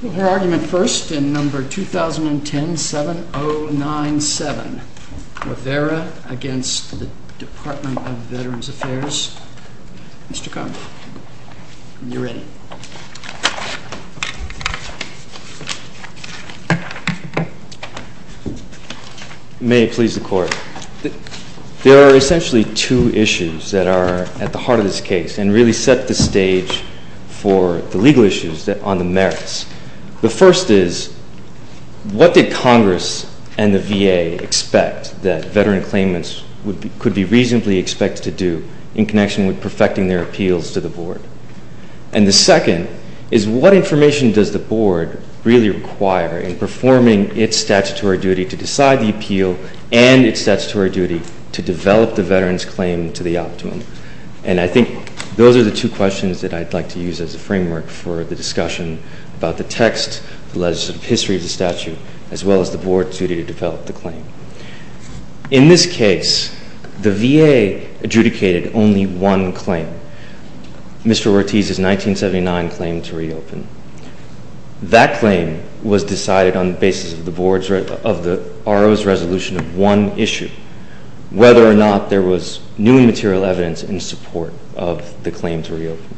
There are essentially two issues that are at the heart of this case and really set the stage for the legal issues on the merits. The first is, what did Congress and the VA expect that veteran claimants could be reasonably expected to do in connection with perfecting their appeals to the Board? And the second is, what information does the Board really require in performing its statutory duty to decide the appeal and its statutory duty to develop the veteran's claim to the optimum? And I think those are the two questions that I'd like to use as a framework for the discussion about the text, the legislative history of the statute, as well as the Board's duty to develop the claim. In this case, the VA adjudicated only one claim, Mr. Ortiz's 1979 claim to reopen. That claim was decided on the basis of the Board's resolution of one issue, whether or not there was new material evidence in support of the claim to reopen.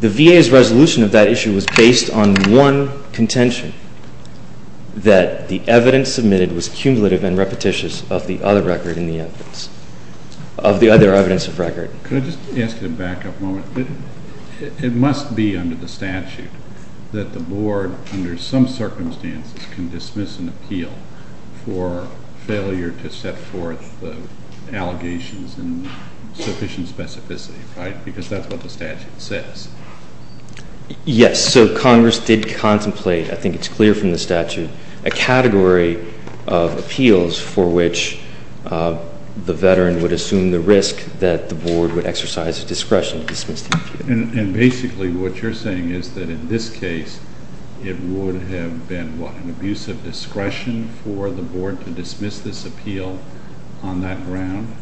The VA's resolution of that issue was based on one contention, that the evidence submitted was cumulative and repetitious of the other record in the evidence, of the other evidence of record. Can I just ask you to back up a moment? It must be under the statute that the Board, under some circumstances, can dismiss an appeal for failure to set forth the allegations in sufficient specificity, right? Because that's what the statute says. Yes. So Congress did contemplate, I think it's clear from the statute, a category of appeals for which the veteran would assume the risk that the Board would exercise a discretion to dismiss the appeal. And basically what you're saying is that in this case, it would have been, what, an abuse of discretion for the Board to dismiss this appeal on that ground?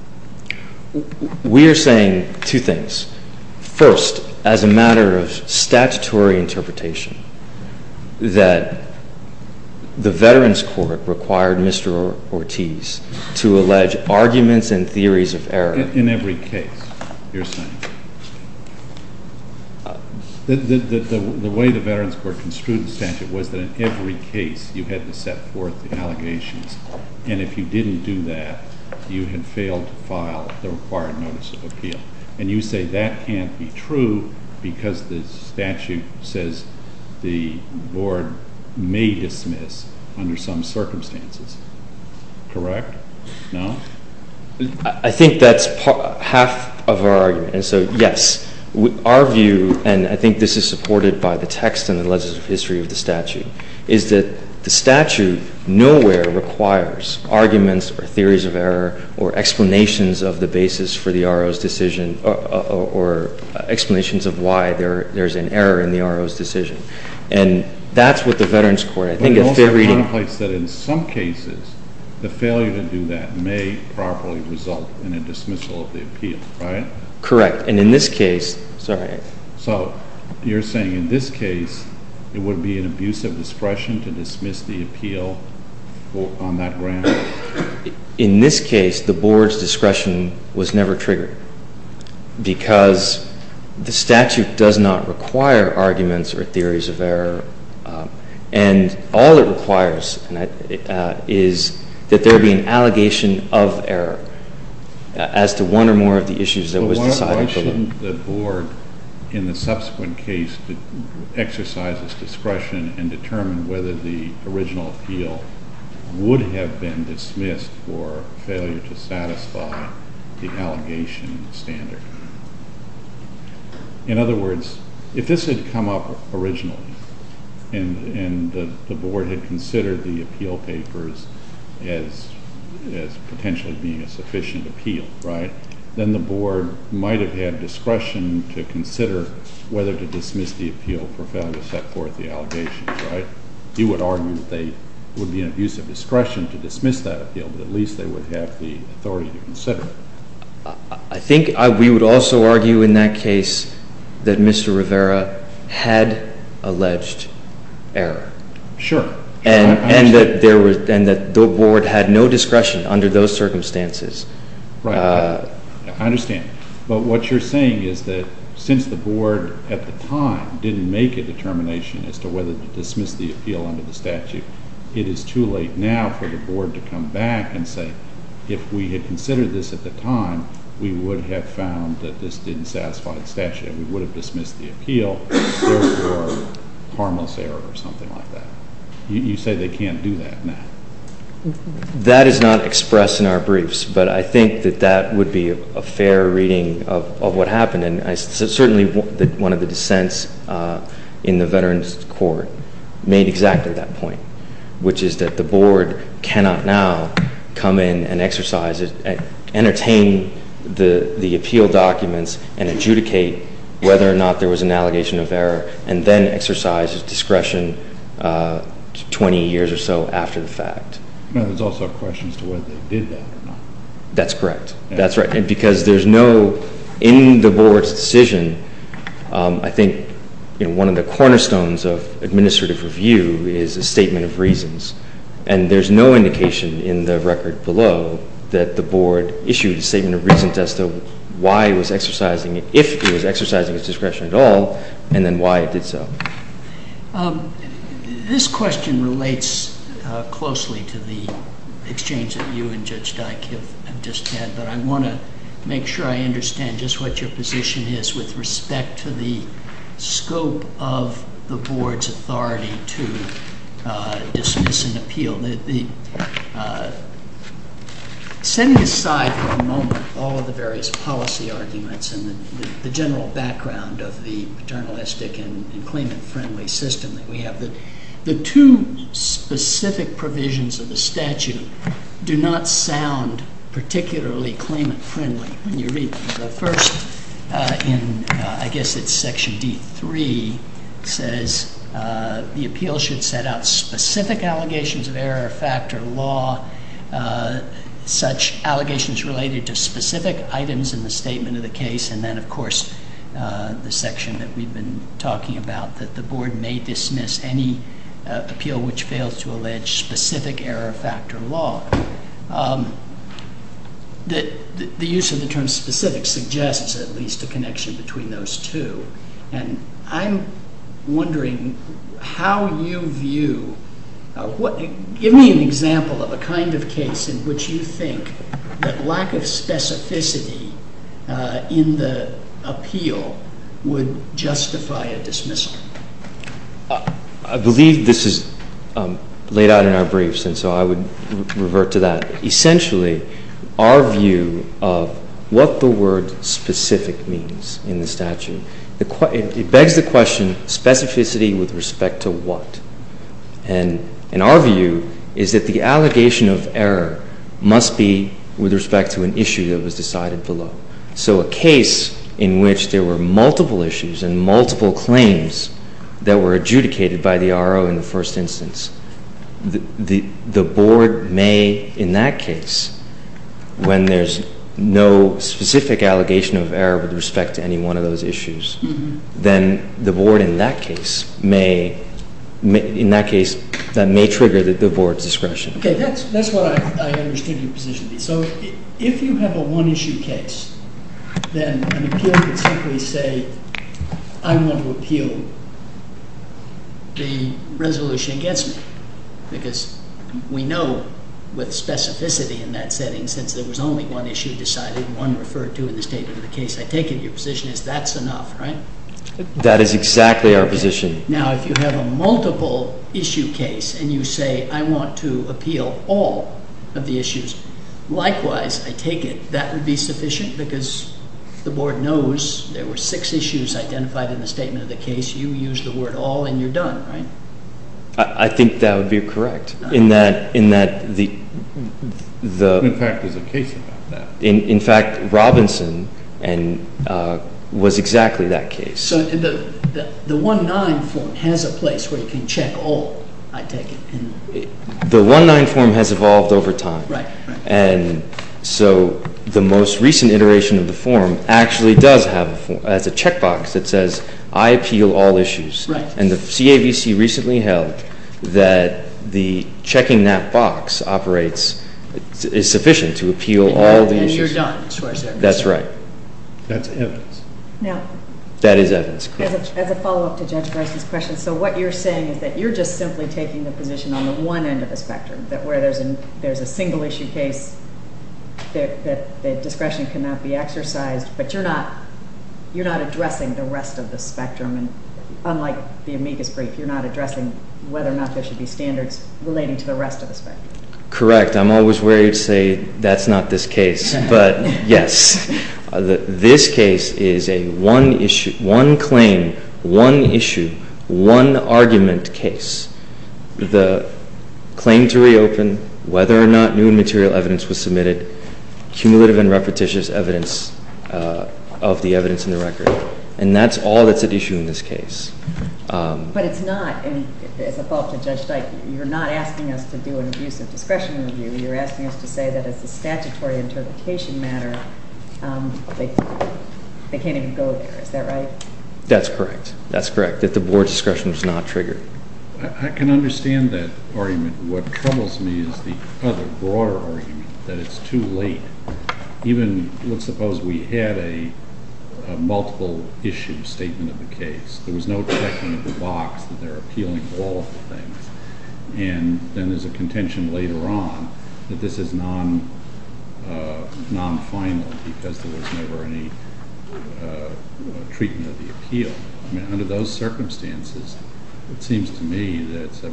We are saying two things. First, as a matter of statutory interpretation, that the Veterans Court required Mr. Ortiz to allege arguments and theories of error. In every case, you're saying? The way the Veterans Court construed the statute was that in every case, you had to set forth the allegations, and if you didn't do that, you had failed to file the required notice of appeal. And you say that can't be true because the statute says the Board may dismiss under some circumstances. Correct? No? I think that's half of our argument, and so, yes, our view, and I think this is supported by the text and the legislative history of the statute, is that the statute nowhere requires arguments or theories of error or explanations of the basis for the RO's decision, or explanations of why there's an error in the RO's decision. And that's what the Veterans Court, I think, if they're reading— It doesn't properly result in a dismissal of the appeal, right? Correct. And in this case— Sorry? So, you're saying in this case, it would be an abuse of discretion to dismiss the appeal on that ground? In this case, the Board's discretion was never triggered because the statute does not require arguments or theories of error, and all it requires is that there be an allegation of error as to one or more of the issues that was decided. But why shouldn't the Board, in the subsequent case, exercise its discretion and determine whether the original appeal would have been dismissed for failure to satisfy the allegation standard? In other words, if this had come up originally, and the Board had considered the appeal papers as potentially being a sufficient appeal, right, then the Board might have had discretion to consider whether to dismiss the appeal for failure to set forth the allegations, right? You would argue that there would be an abuse of discretion to dismiss that appeal, but at least they would have the authority to consider it. I think we would also argue in that case that Mr. Rivera had alleged error. Sure. And that the Board had no discretion under those circumstances. Right. I understand. But what you're saying is that since the Board at the time didn't make a determination as to whether to dismiss the appeal under the statute, it is too late now for the Board to come back and say, if we had considered this at the time, we would have found that this didn't satisfy the statute, and we would have dismissed the appeal, therefore, harmless error or something like that. You say they can't do that now. That is not expressed in our briefs, but I think that that would be a fair reading of what happened, and certainly one of the dissents in the Veterans Court made exactly that point, which is that the Board cannot now come in and exercise it, entertain the appeal documents and adjudicate whether or not there was an allegation of error, and then exercise its discretion 20 years or so after the fact. Now, there's also a question as to whether they did that or not. That's correct. That's right. Because there's no, in the Board's decision, I think one of the cornerstones of administrative review is a statement of reasons, and there's no indication in the record below that the Board was exercising it, if it was exercising its discretion at all, and then why it did so. This question relates closely to the exchange that you and Judge Dyk have just had, but I want to make sure I understand just what your position is with respect to the scope of the Board's authority to dismiss an appeal. Setting aside for a moment all of the various policy arguments and the general background of the paternalistic and claimant-friendly system that we have, the two specific provisions of the statute do not sound particularly claimant-friendly when you read them. The first in, I guess it's Section D3, says the appeal should set out specific allegations of error of factor law, such allegations related to specific items in the statement of the case, and then, of course, the section that we've been talking about, that the Board may dismiss any appeal which fails to allege specific error of factor law. The use of the term specific suggests at least a connection between those two, and I'm wondering how you view, give me an example of a kind of case in which you think that lack of specificity in the appeal would justify a dismissal. I believe this is laid out in our briefs, and so I would revert to that. Essentially our view of what the word specific means in the statute, it begs the question of specificity with respect to what, and our view is that the allegation of error must be with respect to an issue that was decided below. So a case in which there were multiple issues and multiple claims that were adjudicated by the RO in the first instance, the Board may, in that case, when there's no specific allegation of error with respect to any one of those issues, then the Board in that case may, in that case, that may trigger the Board's discretion. Okay, that's what I understand your position to be. So if you have a one issue case, then an appeal could simply say, I want to appeal the resolution against me, because we know with specificity in that setting, since there was only one issue decided, one referred to in the statement of the case, I take it your position is that's enough, right? That is exactly our position. Now if you have a multiple issue case, and you say, I want to appeal all of the issues, likewise I take it that would be sufficient, because the Board knows there were six issues identified in the statement of the case, you use the word all and you're done, right? In fact, Robinson was exactly that case. So the 1-9 form has a place where you can check all, I take it? The 1-9 form has evolved over time. Right. And so the most recent iteration of the form actually does have a checkbox that says, I appeal all issues. Right. And the CAVC recently held that the checking that box operates, is sufficient to appeal all the issues. And you're done. That's right. That's evidence. Now. That is evidence. As a follow-up to Judge Garza's question, so what you're saying is that you're just simply taking the position on the one end of the spectrum, that where there's a single issue case that discretion cannot be exercised, but you're not addressing the rest of the spectrum, unlike the amicus brief, you're not addressing whether or not there should be standards relating to the rest of the spectrum. Correct. I'm always wary to say, that's not this case. But yes, this case is a one issue, one claim, one issue, one argument case. The claim to reopen, whether or not new and material evidence was submitted, cumulative and repetitious evidence of the evidence in the record. And that's all that's at issue in this case. But it's not, as a follow-up to Judge Dyke, you're not asking us to do an abusive discretion review. You're asking us to say that it's a statutory interpretation matter. They can't even go there. Is that right? That's correct. That's correct. That the board discretion was not triggered. I can understand that argument. What troubles me is the other, broader argument, that it's too late. Even, let's suppose we had a multiple issue statement of the case. There was no checking of the box that they're appealing all of the things. And then there's a contention later on that this is non-final because there was never any treatment of the appeal. I mean, under those circumstances, it seems to me that it's a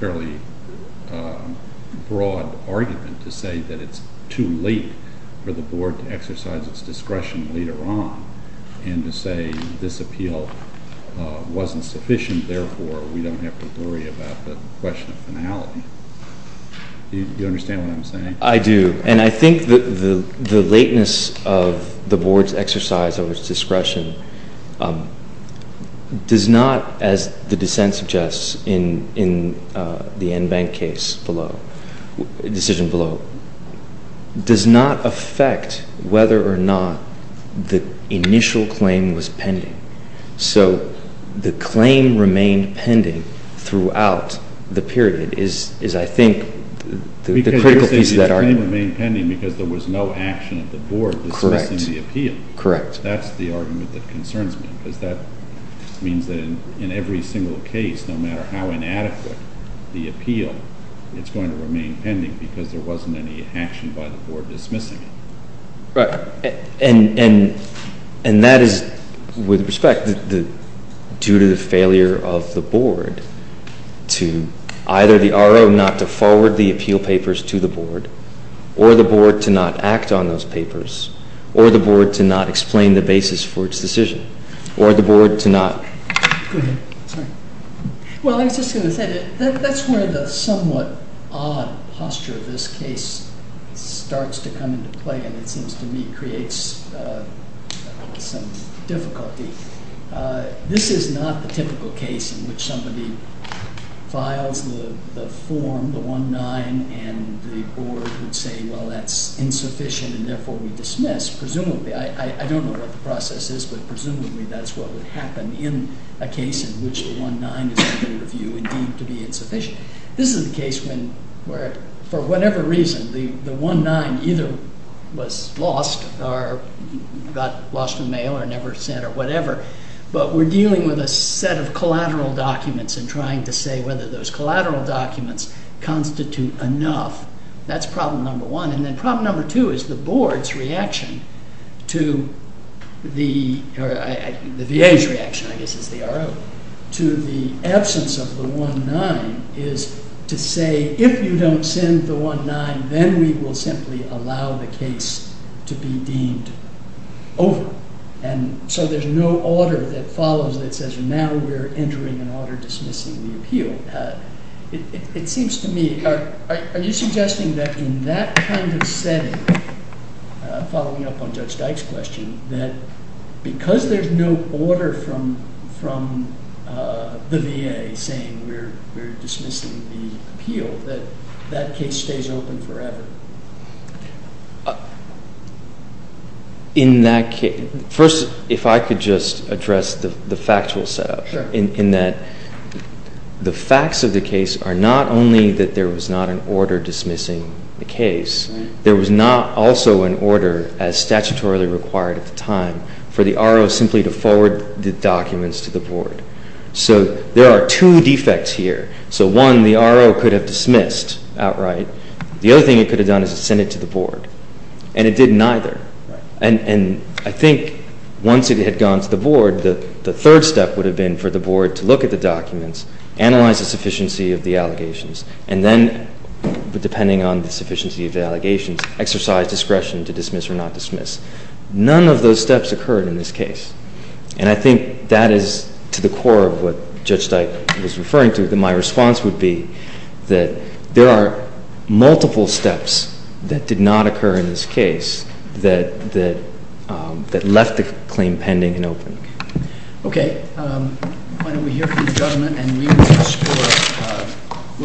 fairly broad argument to say that it's too late for the board to exercise its discretion later on and to say that this appeal wasn't sufficient, therefore we don't have to worry about the question of finality. Do you understand what I'm saying? I do. And I think the lateness of the board's exercise of its discretion does not, as the dissent suggests in the Enbank case below, decision below, does not affect whether or not the initial claim was pending. So the claim remained pending throughout the period is, I think, the critical piece of that argument. Because you're saying the claim remained pending because there was no action of the board dismissing the appeal. Correct. That's the argument that concerns me because that means that in every single case, no matter how inadequate the appeal, it's going to remain pending because there wasn't any action by the board dismissing it. Right. And that is, with respect, due to the failure of the board to either the RO not to forward the appeal papers to the board, or the board to not act on those papers, or the board to not explain the basis for its decision, or the board to not... Go ahead. Sorry. Well, I was just going to say that that's where the somewhat odd posture of this case starts to come into play, and it seems to me creates some difficulty. This is not the typical case in which somebody files the form, the 1-9, and the board would say, well, that's insufficient, and therefore we dismiss. Presumably. I don't know what the process is, but presumably that's what would happen in a case in which the 1-9 is put in review and deemed to be insufficient. This is the case where, for whatever reason, the 1-9 either was lost, or got lost in the mail, or never sent, or whatever, but we're dealing with a set of collateral documents and trying to say whether those collateral documents constitute enough. That's problem number one. And then problem number two is the board's reaction to the... is to say, if you don't send the 1-9, then we will simply allow the case to be deemed over, and so there's no order that follows that says, now we're entering an order dismissing the appeal. It seems to me, are you suggesting that in that kind of setting, following up on Judge Gershwin's case, that that case stays open forever? In that case... First, if I could just address the factual set-up. Sure. In that the facts of the case are not only that there was not an order dismissing the case, there was not also an order, as statutorily required at the time, for the RO simply to forward the documents to the board. So there are two defects here. So one, the RO could have dismissed outright. The other thing it could have done is send it to the board, and it didn't either. And I think once it had gone to the board, the third step would have been for the board to look at the documents, analyze the sufficiency of the allegations, and then, depending on the sufficiency of the allegations, exercise discretion to dismiss or not dismiss. None of those steps occurred in this case. And I think that is to the core of what Judge Steik was referring to, that my response would be that there are multiple steps that did not occur in this case that left the claim pending and open. Okay. Why don't we hear from the judgment, and we will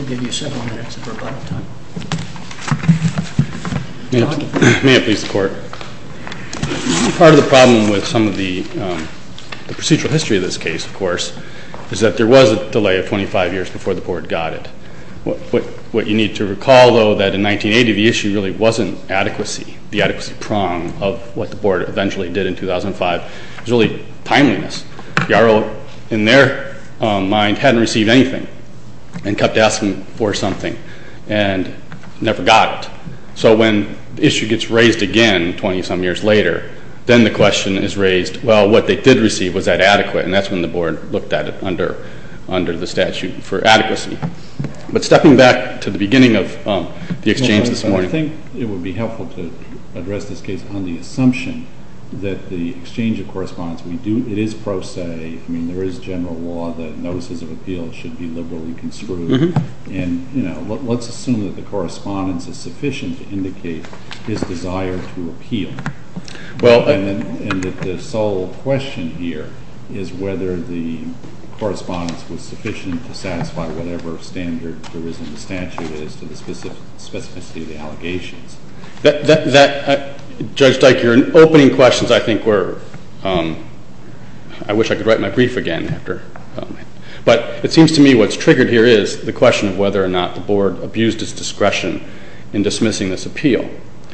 give you several minutes of rebuttal time. May it please the Court. Part of the problem with some of the procedural history of this case, of course, is that there was a delay of 25 years before the board got it. What you need to recall, though, that in 1980, the issue really wasn't adequacy. The adequacy prong of what the board eventually did in 2005 was really timeliness. The RO, in their mind, hadn't received anything and kept asking for something and never got it. So when the issue gets raised again 20-some years later, then the question is raised, well, what they did receive, was that adequate? And that's when the board looked at it under the statute for adequacy. But stepping back to the beginning of the exchange this morning. I think it would be helpful to address this case on the assumption that the exchange of correspondence, it is pro se. I mean, there is general law that notices of appeal should be liberally construed. And, you know, let's assume that the correspondence is sufficient to indicate his desire to appeal. And that the sole question here is whether the correspondence was sufficient to satisfy whatever standard there is in the statute as to the specificity of the allegations. Judge Dyke, your opening questions I think were, I wish I could write my brief again. But it seems to me what's triggered here is the question of whether or not the board abused its discretion in dismissing this appeal.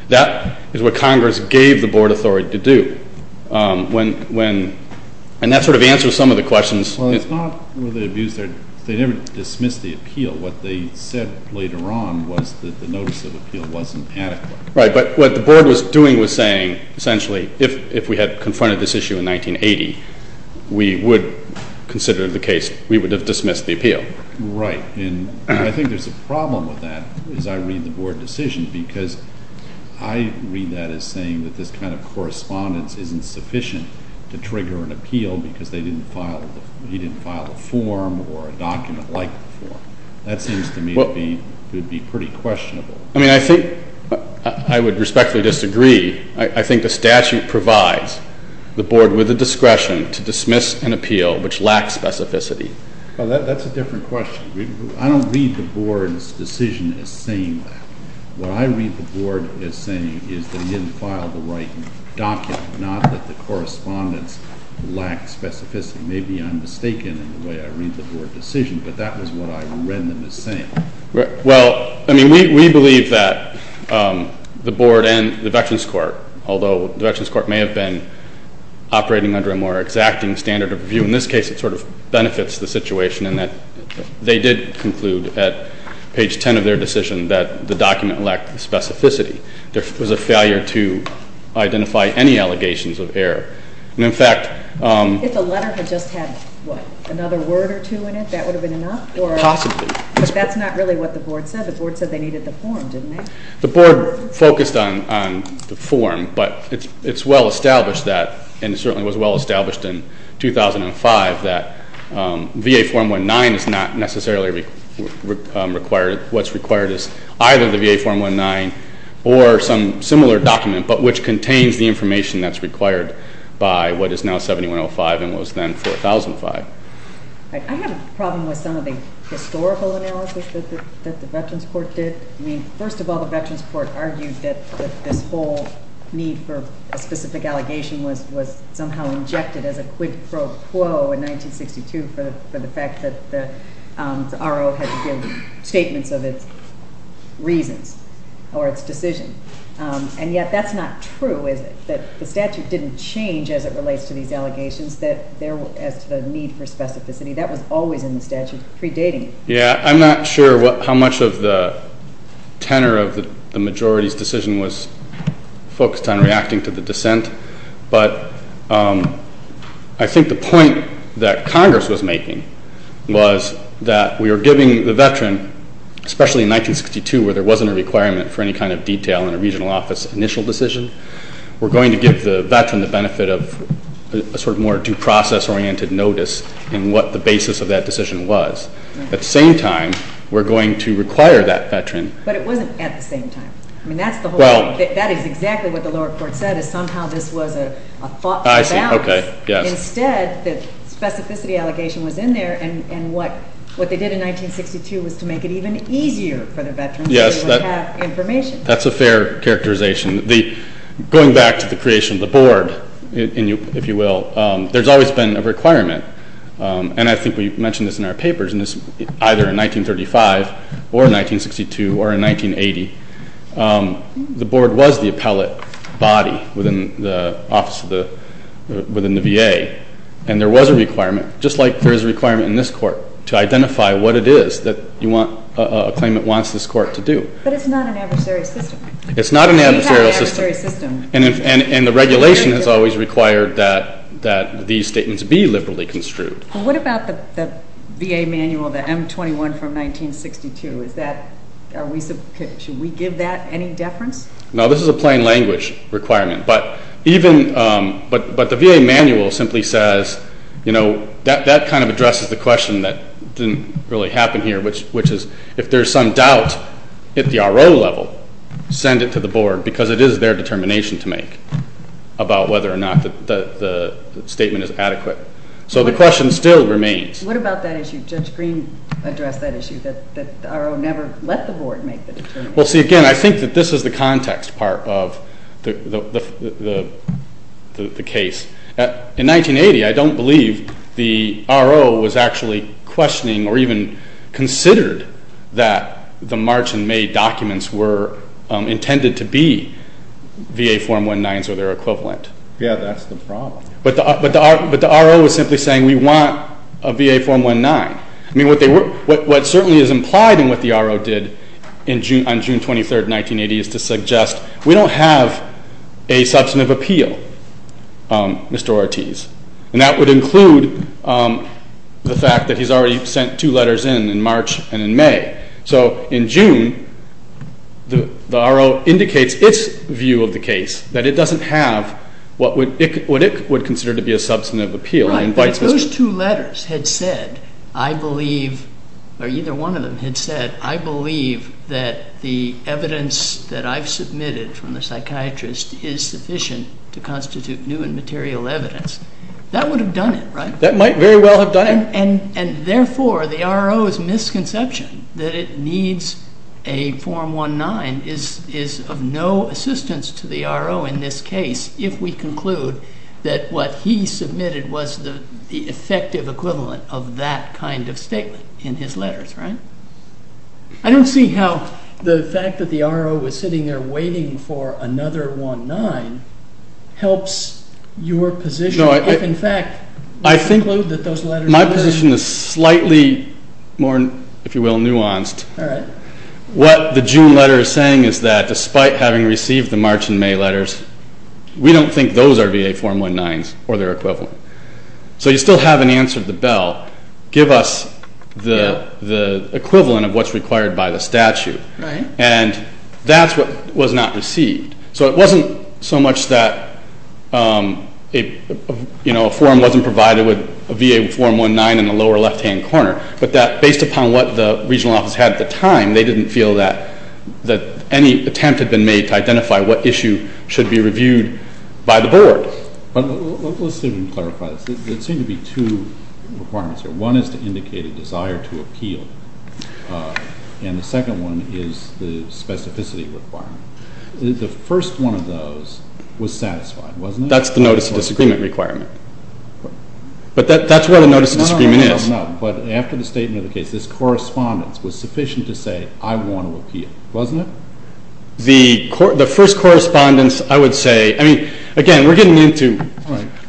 That is what Congress gave the board authority to do. And that sort of answers some of the questions. Well, it's not whether they abused their, they never dismissed the appeal. What they said later on was that the notice of appeal wasn't adequate. Right, but what the board was doing was saying, essentially, if we had confronted this issue in 1980, we would consider the case, we would have dismissed the appeal. Right. And I think there's a problem with that as I read the board decision. Because I read that as saying that this kind of correspondence isn't sufficient to trigger an appeal because they didn't file, he didn't file a form or a document like the form. That seems to me to be pretty questionable. I mean, I think, I would respectfully disagree. I think the statute provides the board with the discretion to dismiss an appeal which lacks specificity. Well, that's a different question. I don't read the board's decision as saying that. What I read the board as saying is that he didn't file the right document, not that the correspondence lacked specificity. Maybe I'm mistaken in the way I read the board decision, but that was what I read them as saying. Well, I mean, we believe that the board and the Veterans Court, although the Veterans Court may have been operating under a more exacting standard of review, in this case it sort of benefits the situation in that they did conclude at page 10 of their decision that the document lacked specificity. There was a failure to identify any allegations of error. And, in fact, If the letter had just had, what, another word or two in it, that would have been enough? Possibly. But that's not really what the board said. The board said they needed the form, didn't they? The board focused on the form, but it's well established that, and it certainly was well established in 2005, that VA Form 19 is not necessarily required. What's required is either the VA Form 19 or some similar document, but which contains the information that's required by what is now 7105 and was then 4005. I have a problem with some of the historical analysis that the Veterans Court did. I mean, first of all, the Veterans Court argued that this whole need for a specific allegation was somehow injected as a quid pro quo in 1962 for the fact that the RO had to give statements of its reasons or its decision. The statute didn't change as it relates to these allegations as to the need for specificity. That was always in the statute predating it. Yeah. I'm not sure how much of the tenor of the majority's decision was focused on reacting to the dissent, but I think the point that Congress was making was that we were giving the veteran, especially in 1962 where there wasn't a requirement for any kind of detail in a regional office initial decision, we're going to give the veteran the benefit of a sort of more due process-oriented notice in what the basis of that decision was. At the same time, we're going to require that veteran. But it wasn't at the same time. I mean, that's the whole point. That is exactly what the lower court said is somehow this was a thoughtful balance. I see. Okay. Yes. Instead, the specificity allegation was in there, and what they did in 1962 was to make it even easier for the veterans to have information. Yes, that's a fair characterization. Going back to the creation of the board, if you will, there's always been a requirement, and I think we mentioned this in our papers, and it's either in 1935 or in 1962 or in 1980. The board was the appellate body within the VA, and there was a requirement, just like there is a requirement in this court to identify what it is that a claimant wants this court to do. But it's not an adversarial system. It's not an adversarial system. We have an adversarial system. And the regulation has always required that these statements be liberally construed. What about the VA manual, the M21 from 1962? Should we give that any deference? No, this is a plain language requirement. But the VA manual simply says, you know, that kind of addresses the question that didn't really happen here, which is if there's some doubt at the R.O. level, send it to the board, because it is their determination to make about whether or not the statement is adequate. So the question still remains. What about that issue? Judge Green addressed that issue, that the R.O. never let the board make the determination. Well, see, again, I think that this is the context part of the case. In 1980, I don't believe the R.O. was actually questioning or even considered that the March and May documents were intended to be VA Form 19s or their equivalent. Yeah, that's the problem. But the R.O. was simply saying we want a VA Form 19. I mean, what certainly is implied in what the R.O. did on June 23, 1980, is to suggest we don't have a substantive appeal, Mr. Ortiz. And that would include the fact that he's already sent two letters in, in March and in May. So in June, the R.O. indicates its view of the case, that it doesn't have what it would consider to be a substantive appeal. Right, but if those two letters had said, I believe, or either one of them had said, I believe that the evidence that I've submitted from the psychiatrist is sufficient to constitute new and material evidence, that would have done it, right? That might very well have done it. And therefore, the R.O.'s misconception that it needs a Form 19 is of no assistance to the R.O. in this case, if we conclude that what he submitted was the effective equivalent of that kind of statement in his letters, right? I don't see how the fact that the R.O. was sitting there waiting for another One-Nine helps your position. No, I think my position is slightly more, if you will, nuanced. All right. What the June letter is saying is that despite having received the March and May letters, we don't think those are VA Form 19s or their equivalent. So you still haven't answered the bell. Give us the equivalent of what's required by the statute. And that's what was not received. So it wasn't so much that a form wasn't provided with a VA Form 19 in the lower left-hand corner, but that based upon what the regional office had at the time, they didn't feel that any attempt had been made to identify what issue should be reviewed by the Board. Let's see if we can clarify this. There seem to be two requirements here. One is to indicate a desire to appeal, and the second one is the specificity requirement. The first one of those was satisfied, wasn't it? That's the Notice of Disagreement requirement. But that's what a Notice of Disagreement is. I don't know, but after the statement of the case, this correspondence was sufficient to say, I want to appeal, wasn't it? The first correspondence, I would say, I mean, again, we're getting into,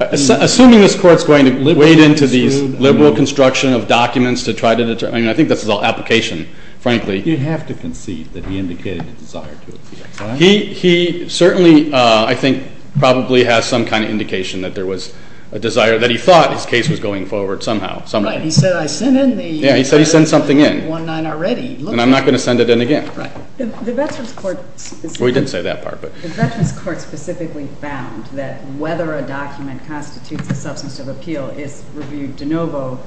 assuming this Court's going to wade into these liberal construction of documents to try to determine, I mean, I think this is all application, frankly. You have to concede that he indicated a desire to appeal. He certainly, I think, probably has some kind of indication that there was a desire, that he thought his case was going forward somehow, somehow. Right. He said, I sent in the 1-9 already. Yeah, he said he sent something in, and I'm not going to send it in again. Right. The Veterans Court specifically found that whether a document constitutes a substance of appeal is reviewed de novo.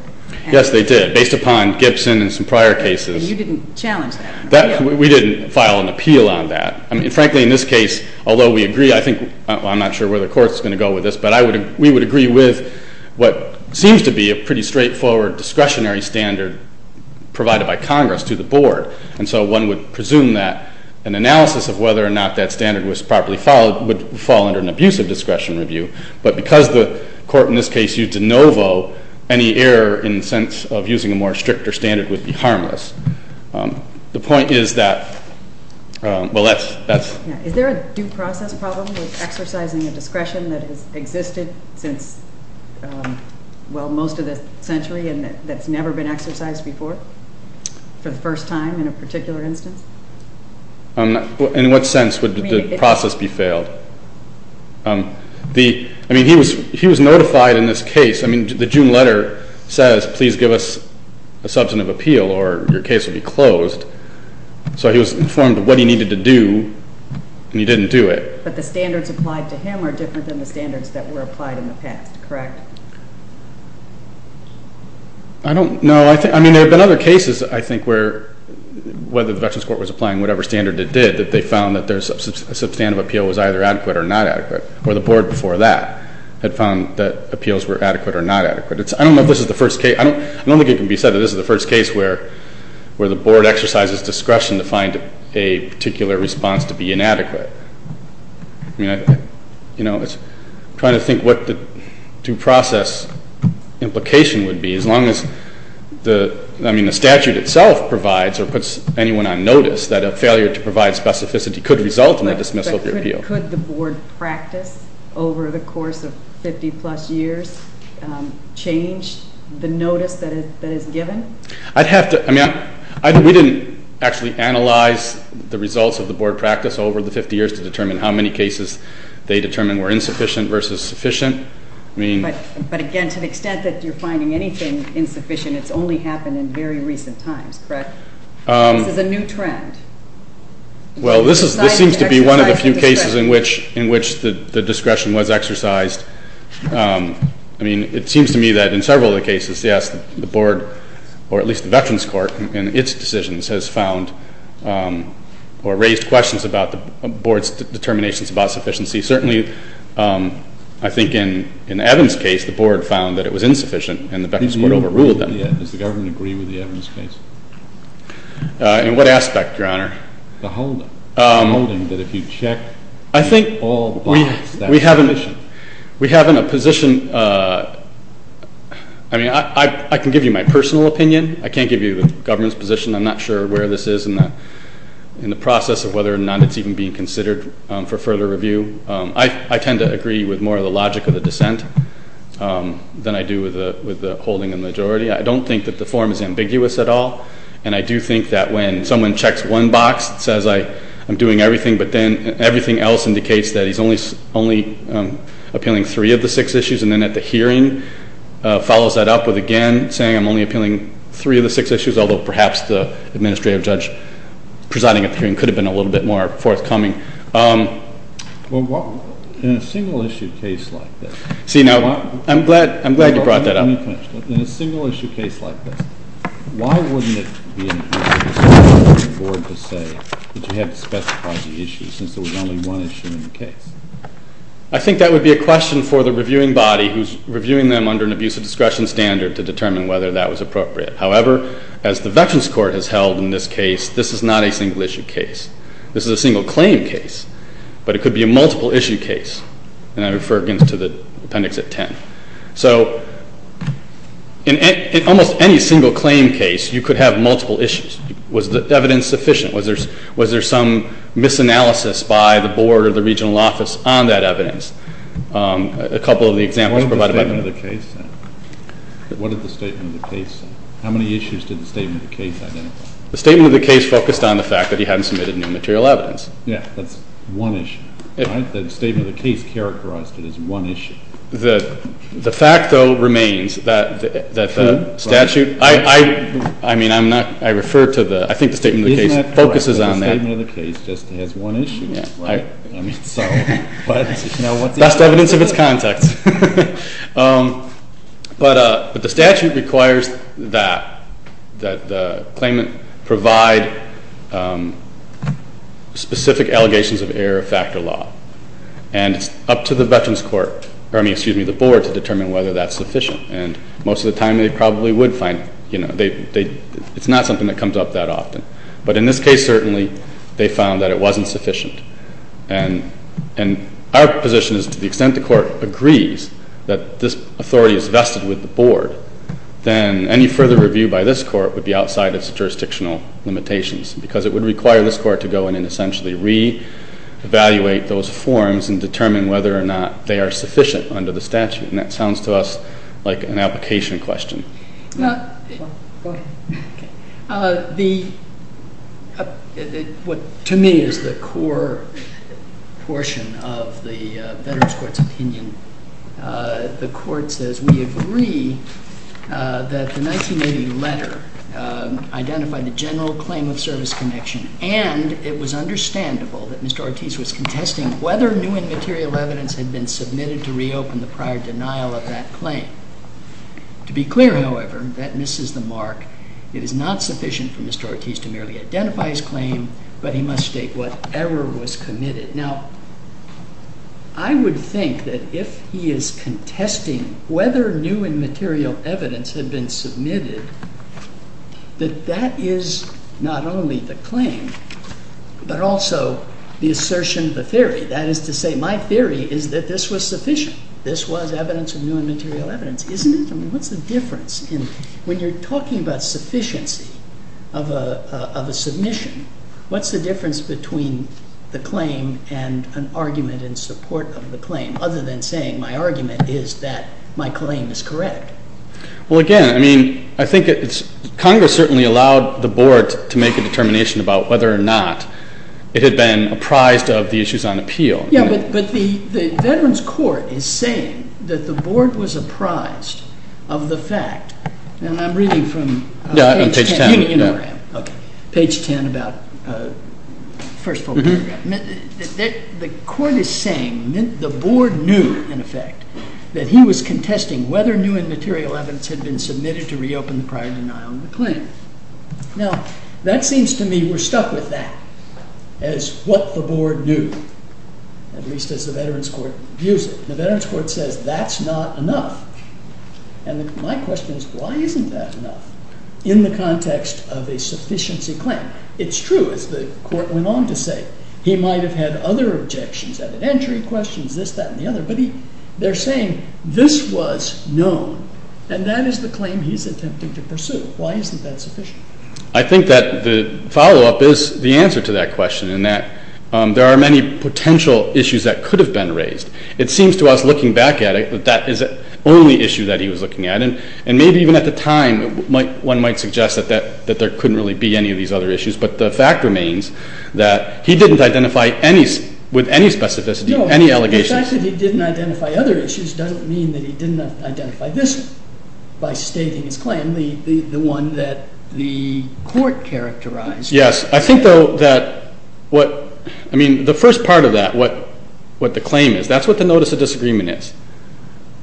Yes, they did, based upon Gibson and some prior cases. You didn't challenge that. We didn't file an appeal on that. I mean, frankly, in this case, although we agree, I think, I'm not sure where the Court's going to go with this, but we would agree with what seems to be a pretty straightforward discretionary standard provided by Congress to the Board. And so one would presume that an analysis of whether or not that standard was properly followed would fall under an abusive discretion review. But because the Court in this case used de novo, any error in the sense of using a more stricter standard would be harmless. The point is that, well, that's... Is there a due process problem with exercising a discretion that has existed since, well, most of the century and that's never been exercised before for the first time in a particular instance? In what sense would the process be failed? I mean, he was notified in this case. I mean, the June letter says, please give us a substance of appeal or your case will be closed. So he was informed of what he needed to do, and he didn't do it. But the standards applied to him are different than the standards that were applied in the past, correct? I don't know. I mean, there have been other cases, I think, where whether the Veterans Court was applying whatever standard it did, that they found that their substantive appeal was either adequate or not adequate, or the Board before that had found that appeals were adequate or not adequate. I don't know if this is the first case. I don't think it can be said that this is the first case where the Board exercises discretion to find a particular response to be inadequate. I mean, you know, I'm trying to think what the due process implication would be. As long as the statute itself provides or puts anyone on notice that a failure to provide specificity could result in a dismissal of the appeal. Could the Board practice over the course of 50-plus years change the notice that is given? I'd have to, I mean, we didn't actually analyze the results of the Board practice over the 50 years to determine how many cases they determined were insufficient versus sufficient. But again, to the extent that you're finding anything insufficient, it's only happened in very recent times, correct? This is a new trend. Well, this seems to be one of the few cases in which the discretion was exercised. I mean, it seems to me that in several of the cases, yes, the Board, or at least the Veterans Court in its decisions has found or raised questions about the Board's determinations about sufficiency. Certainly, I think in Evan's case, the Board found that it was insufficient and the Veterans Court overruled them. Does the government agree with the Evans case? In what aspect, Your Honor? The holding that if you check all the bonds, that's sufficient. We have in a position, I mean, I can give you my personal opinion. I can't give you the government's position. I'm not sure where this is in the process of whether or not it's even being considered for further review. I tend to agree with more of the logic of the dissent than I do with the holding of the majority. I don't think that the form is ambiguous at all, and I do think that when someone checks one box, it says I'm doing everything, but then everything else indicates that he's only appealing three of the six issues, and then at the hearing follows that up with, again, saying I'm only appealing three of the six issues, although perhaps the administrative judge presiding at the hearing could have been a little bit more forthcoming. Well, in a single-issue case like this. See, now, I'm glad you brought that up. Now, let me finish. In a single-issue case like this, why wouldn't it be an issue for the board to say that you have to specify the issues since there was only one issue in the case? I think that would be a question for the reviewing body who's reviewing them under an abusive discretion standard to determine whether that was appropriate. However, as the Veterans Court has held in this case, this is not a single-issue case. This is a single-claim case, but it could be a multiple-issue case, and I refer again to the appendix at 10. So in almost any single-claim case, you could have multiple issues. Was the evidence sufficient? Was there some misanalysis by the board or the regional office on that evidence? A couple of the examples provided by the board. What did the statement of the case say? What did the statement of the case say? How many issues did the statement of the case identify? The statement of the case focused on the fact that he hadn't submitted new material evidence. Yeah, that's one issue. The statement of the case characterized it as one issue. The fact, though, remains that the statute, I mean, I'm not, I refer to the, I think the statement of the case focuses on that. Isn't that correct? The statement of the case just has one issue, right? Best evidence of its context. But the statute requires that the claimant provide specific allegations of error of factor law, and it's up to the veterans court, or I mean, excuse me, the board to determine whether that's sufficient. And most of the time they probably would find, you know, it's not something that comes up that often. But in this case, certainly, they found that it wasn't sufficient. And our position is to the extent the court agrees that this authority is vested with the board, then any further review by this court would be outside its jurisdictional limitations because it would require this court to go in and essentially re-evaluate those forms and determine whether or not they are sufficient under the statute. And that sounds to us like an application question. Go ahead. The, what to me is the core portion of the veterans court's opinion, the court says we agree that the 1980 letter identified the general claim of service connection and it was understandable that Mr. Ortiz was contesting whether new and material evidence had been submitted to reopen the prior denial of that claim. To be clear, however, that misses the mark. It is not sufficient for Mr. Ortiz to merely identify his claim, but he must state whatever was committed. Now, I would think that if he is contesting whether new and material evidence had been submitted, that that is not only the claim, but also the assertion of the theory. That is to say, my theory is that this was sufficient. This was evidence of new and material evidence. Isn't it? I mean, what is the difference? When you are talking about sufficiency of a submission, what is the difference between the claim and an argument in support of the claim, other than saying my argument is that my claim is correct? Well, again, I mean, I think Congress certainly allowed the Board to make a determination about whether or not it had been apprised of the issues on appeal. Yeah, but the Veterans Court is saying that the Board was apprised of the fact, and I'm reading from page 10. Yeah, on page 10. You know where I am. Okay. Page 10 about the first full paragraph. The Court is saying the Board knew, in effect, that he was contesting whether new and material evidence had been submitted to reopen the prior denial of the claim. Now, that seems to me we're stuck with that as what the Board knew, at least as the Veterans Court views it. The Veterans Court says that's not enough, and my question is why isn't that enough in the context of a sufficiency claim? It's true, as the Court went on to say, he might have had other objections, evidentiary questions, this, that, and the other, but they're saying this was known, and that is the claim he's attempting to pursue. Why isn't that sufficient? I think that the follow-up is the answer to that question, in that there are many potential issues that could have been raised. It seems to us, looking back at it, that that is the only issue that he was looking at, and maybe even at the time one might suggest that there couldn't really be any of these other issues, but the fact remains that he didn't identify with any specificity any allegations. No, the fact that he didn't identify other issues doesn't mean that he didn't identify this by stating his claim. And the one that the Court characterized. Yes. I think, though, that what, I mean, the first part of that, what the claim is, that's what the notice of disagreement is.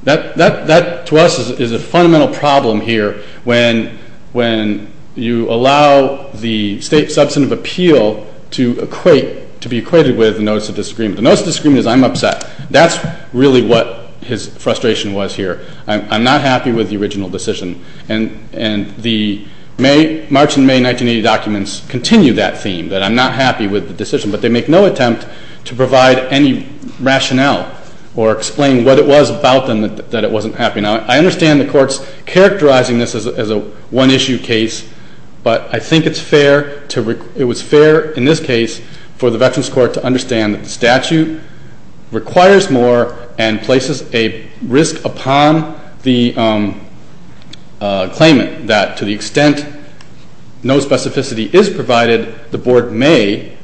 That, to us, is a fundamental problem here when you allow the state substantive appeal to equate, to be equated with the notice of disagreement. The notice of disagreement is I'm upset. That's really what his frustration was here. I'm not happy with the original decision. And the March and May 1980 documents continue that theme, that I'm not happy with the decision, but they make no attempt to provide any rationale or explain what it was about them that it wasn't happy. Now, I understand the Court's characterizing this as a one-issue case, but I think it's fair to, it was fair in this case for the Veterans Court to understand that the statute requires more and places a risk upon the claimant that, to the extent no specificity is provided, the Board may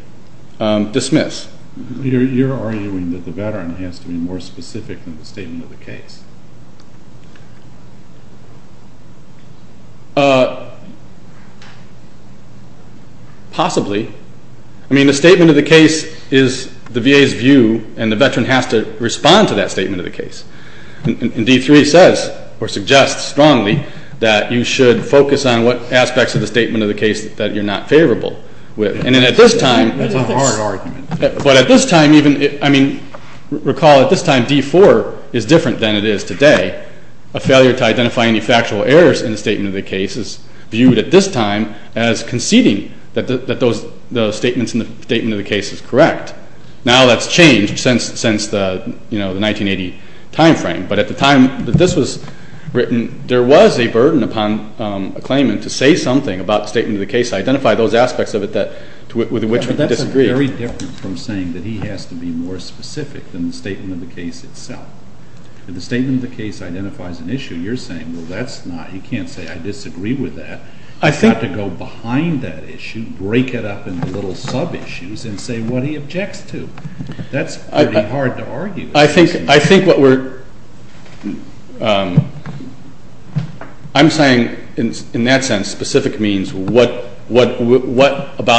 dismiss. You're arguing that the Veteran has to be more specific than the statement of the case. Possibly. I mean, the statement of the case is the VA's view, and the Veteran has to respond to that statement of the case. And D-3 says, or suggests strongly, that you should focus on what aspects of the statement of the case that you're not favorable with. And then at this time. That's a hard argument. But at this time, even, I mean, recall at this time, D-4 is different than it is today. A failure to identify any factual errors in the statement of the case is viewed at this time as conceding that those statements in the statement of the case is correct. Now that's changed since the, you know, the 1980 timeframe. But at the time that this was written, there was a burden upon a claimant to say something about the statement of the case, identify those aspects of it that, to which he disagreed. But that's very different from saying that he has to be more specific than the statement of the case itself. If the statement of the case identifies an issue, you're saying, well, that's not, you can't say I disagree with that. You have to go behind that issue, break it up into little sub-issues, and say what he objects to. That's pretty hard to argue. I think what we're, I'm saying in that sense, specific means what about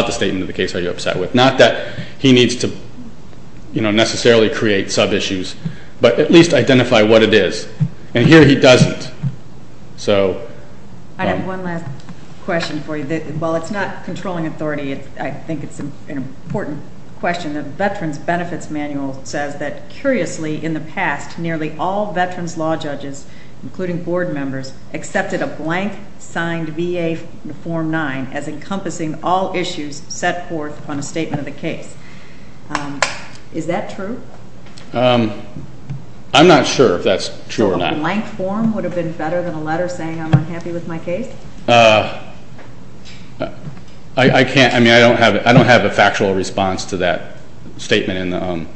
the statement of the case are you upset with? Not that he needs to, you know, necessarily create sub-issues. But at least identify what it is. And here he doesn't. I have one last question for you. While it's not controlling authority, I think it's an important question. The Veterans Benefits Manual says that, curiously, in the past, nearly all veterans law judges, including board members, accepted a blank signed VA Form 9 as encompassing all issues set forth on a statement of the case. Is that true? I'm not sure if that's true or not. A blank form would have been better than a letter saying I'm unhappy with my case? I can't, I mean, I don't have a factual response to that statement.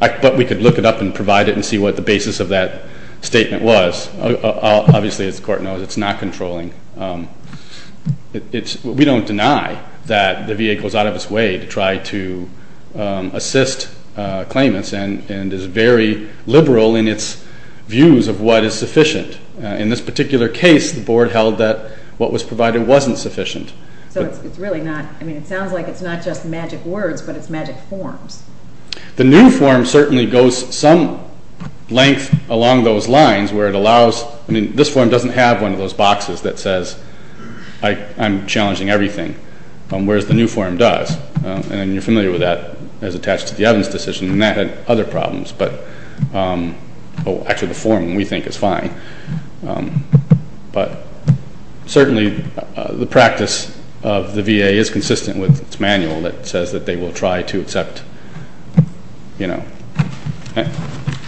But we could look it up and provide it and see what the basis of that statement was. Obviously, as the Court knows, it's not controlling. We don't deny that the VA goes out of its way to try to assist claimants and is very liberal in its views of what is sufficient. In this particular case, the board held that what was provided wasn't sufficient. So it's really not, I mean, it sounds like it's not just magic words, but it's magic forms. The new form certainly goes some length along those lines where it allows, I mean, this form doesn't have one of those boxes that says I'm challenging everything, whereas the new form does. And you're familiar with that as attached to the Evans decision, and that had other problems. But, oh, actually the form we think is fine. But certainly the practice of the VA is consistent with its manual that says that they will try to accept, you know,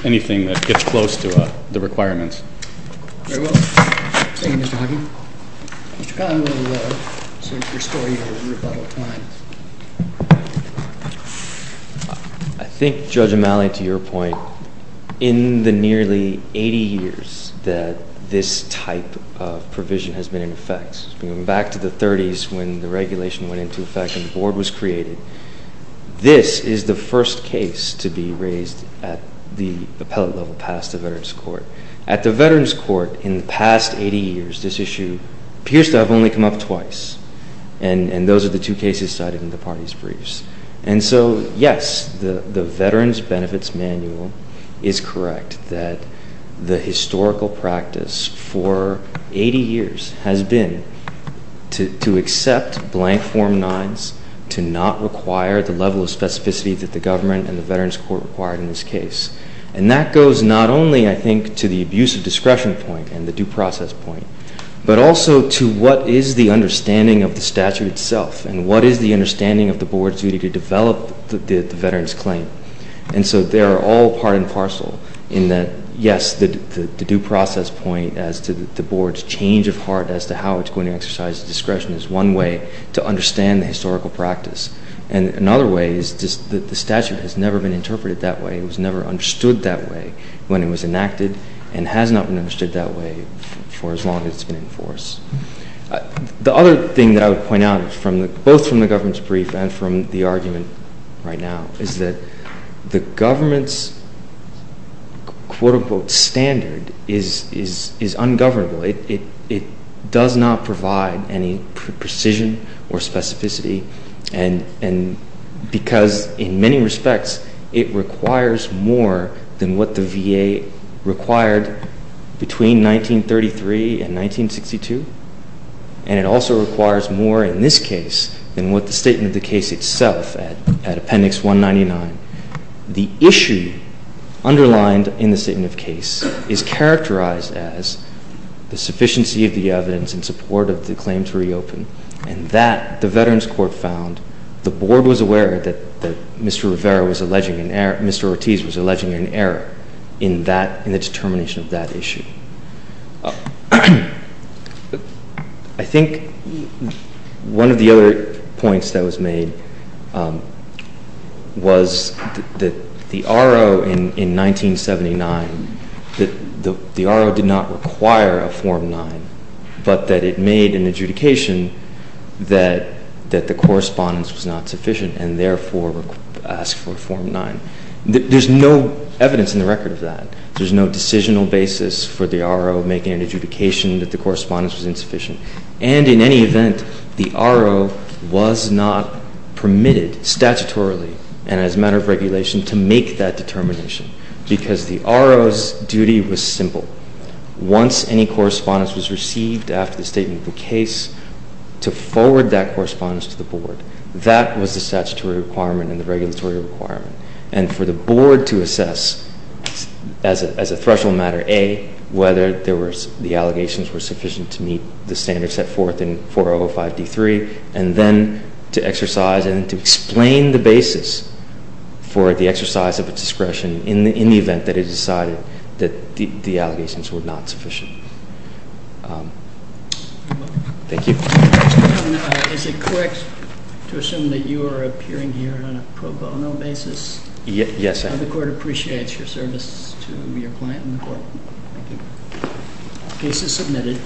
anything that gets close to the requirements. Very well. Thank you, Mr. Hagee. Mr. Connelly, to restore your rebuttal time. I think, Judge O'Malley, to your point, in the nearly 80 years that this type of provision has been in effect, going back to the 30s when the regulation went into effect and the board was created, this is the first case to be raised at the appellate level past the Veterans Court. At the Veterans Court in the past 80 years, this issue appears to have only come up twice, and those are the two cases cited in the parties' briefs. And so, yes, the Veterans Benefits Manual is correct that the historical practice for 80 years has been to accept blank Form 9s, to not require the level of specificity that the government and the Veterans Court required in this case. And that goes not only, I think, to the abuse of discretion point and the due process point, but also to what is the understanding of the statute itself and what is the understanding of the board's duty to develop the veterans' claim. And so they are all part and parcel in that, yes, the due process point as to the board's change of heart as to how it's going to exercise discretion is one way to understand the historical practice. And another way is just that the statute has never been interpreted that way. It was never understood that way when it was enacted and has not been understood that way for as long as it's been in force. The other thing that I would point out, both from the government's brief and from the argument right now, is that the government's quote-unquote standard is ungovernable. It does not provide any precision or specificity. And because in many respects it requires more than what the VA required between 1933 and 1962, and it also requires more in this case than what the statement of the case itself at Appendix 199. The issue underlined in the statement of case is characterized as the sufficiency of the evidence in support of the claim to reopen. And that, the Veterans Court found, the board was aware that Mr. Ortiz was alleging an error in the determination of that issue. I think one of the other points that was made was that the R.O. in 1979, the R.O. did not require a Form 9, but that it made an adjudication that the correspondence was not sufficient and therefore asked for a Form 9. There's no evidence in the record of that. There's no decisional basis for the R.O. making an adjudication that the correspondence was insufficient. And in any event, the R.O. was not permitted statutorily and as a matter of regulation to make that determination because the R.O.'s duty was simple. Once any correspondence was received after the statement of the case, to forward that correspondence to the board. That was the statutory requirement and the regulatory requirement. And for the board to assess, as a threshold matter, A, whether the allegations were sufficient to meet the standards set forth in 405D3, and then to exercise and to explain the basis for the exercise of a discretion in the event that it decided that the allegations were not sufficient. Thank you. Is it correct to assume that you are appearing here on a pro bono basis? Yes, I am. The court appreciates your service to your client and the court. Thank you. Case is submitted.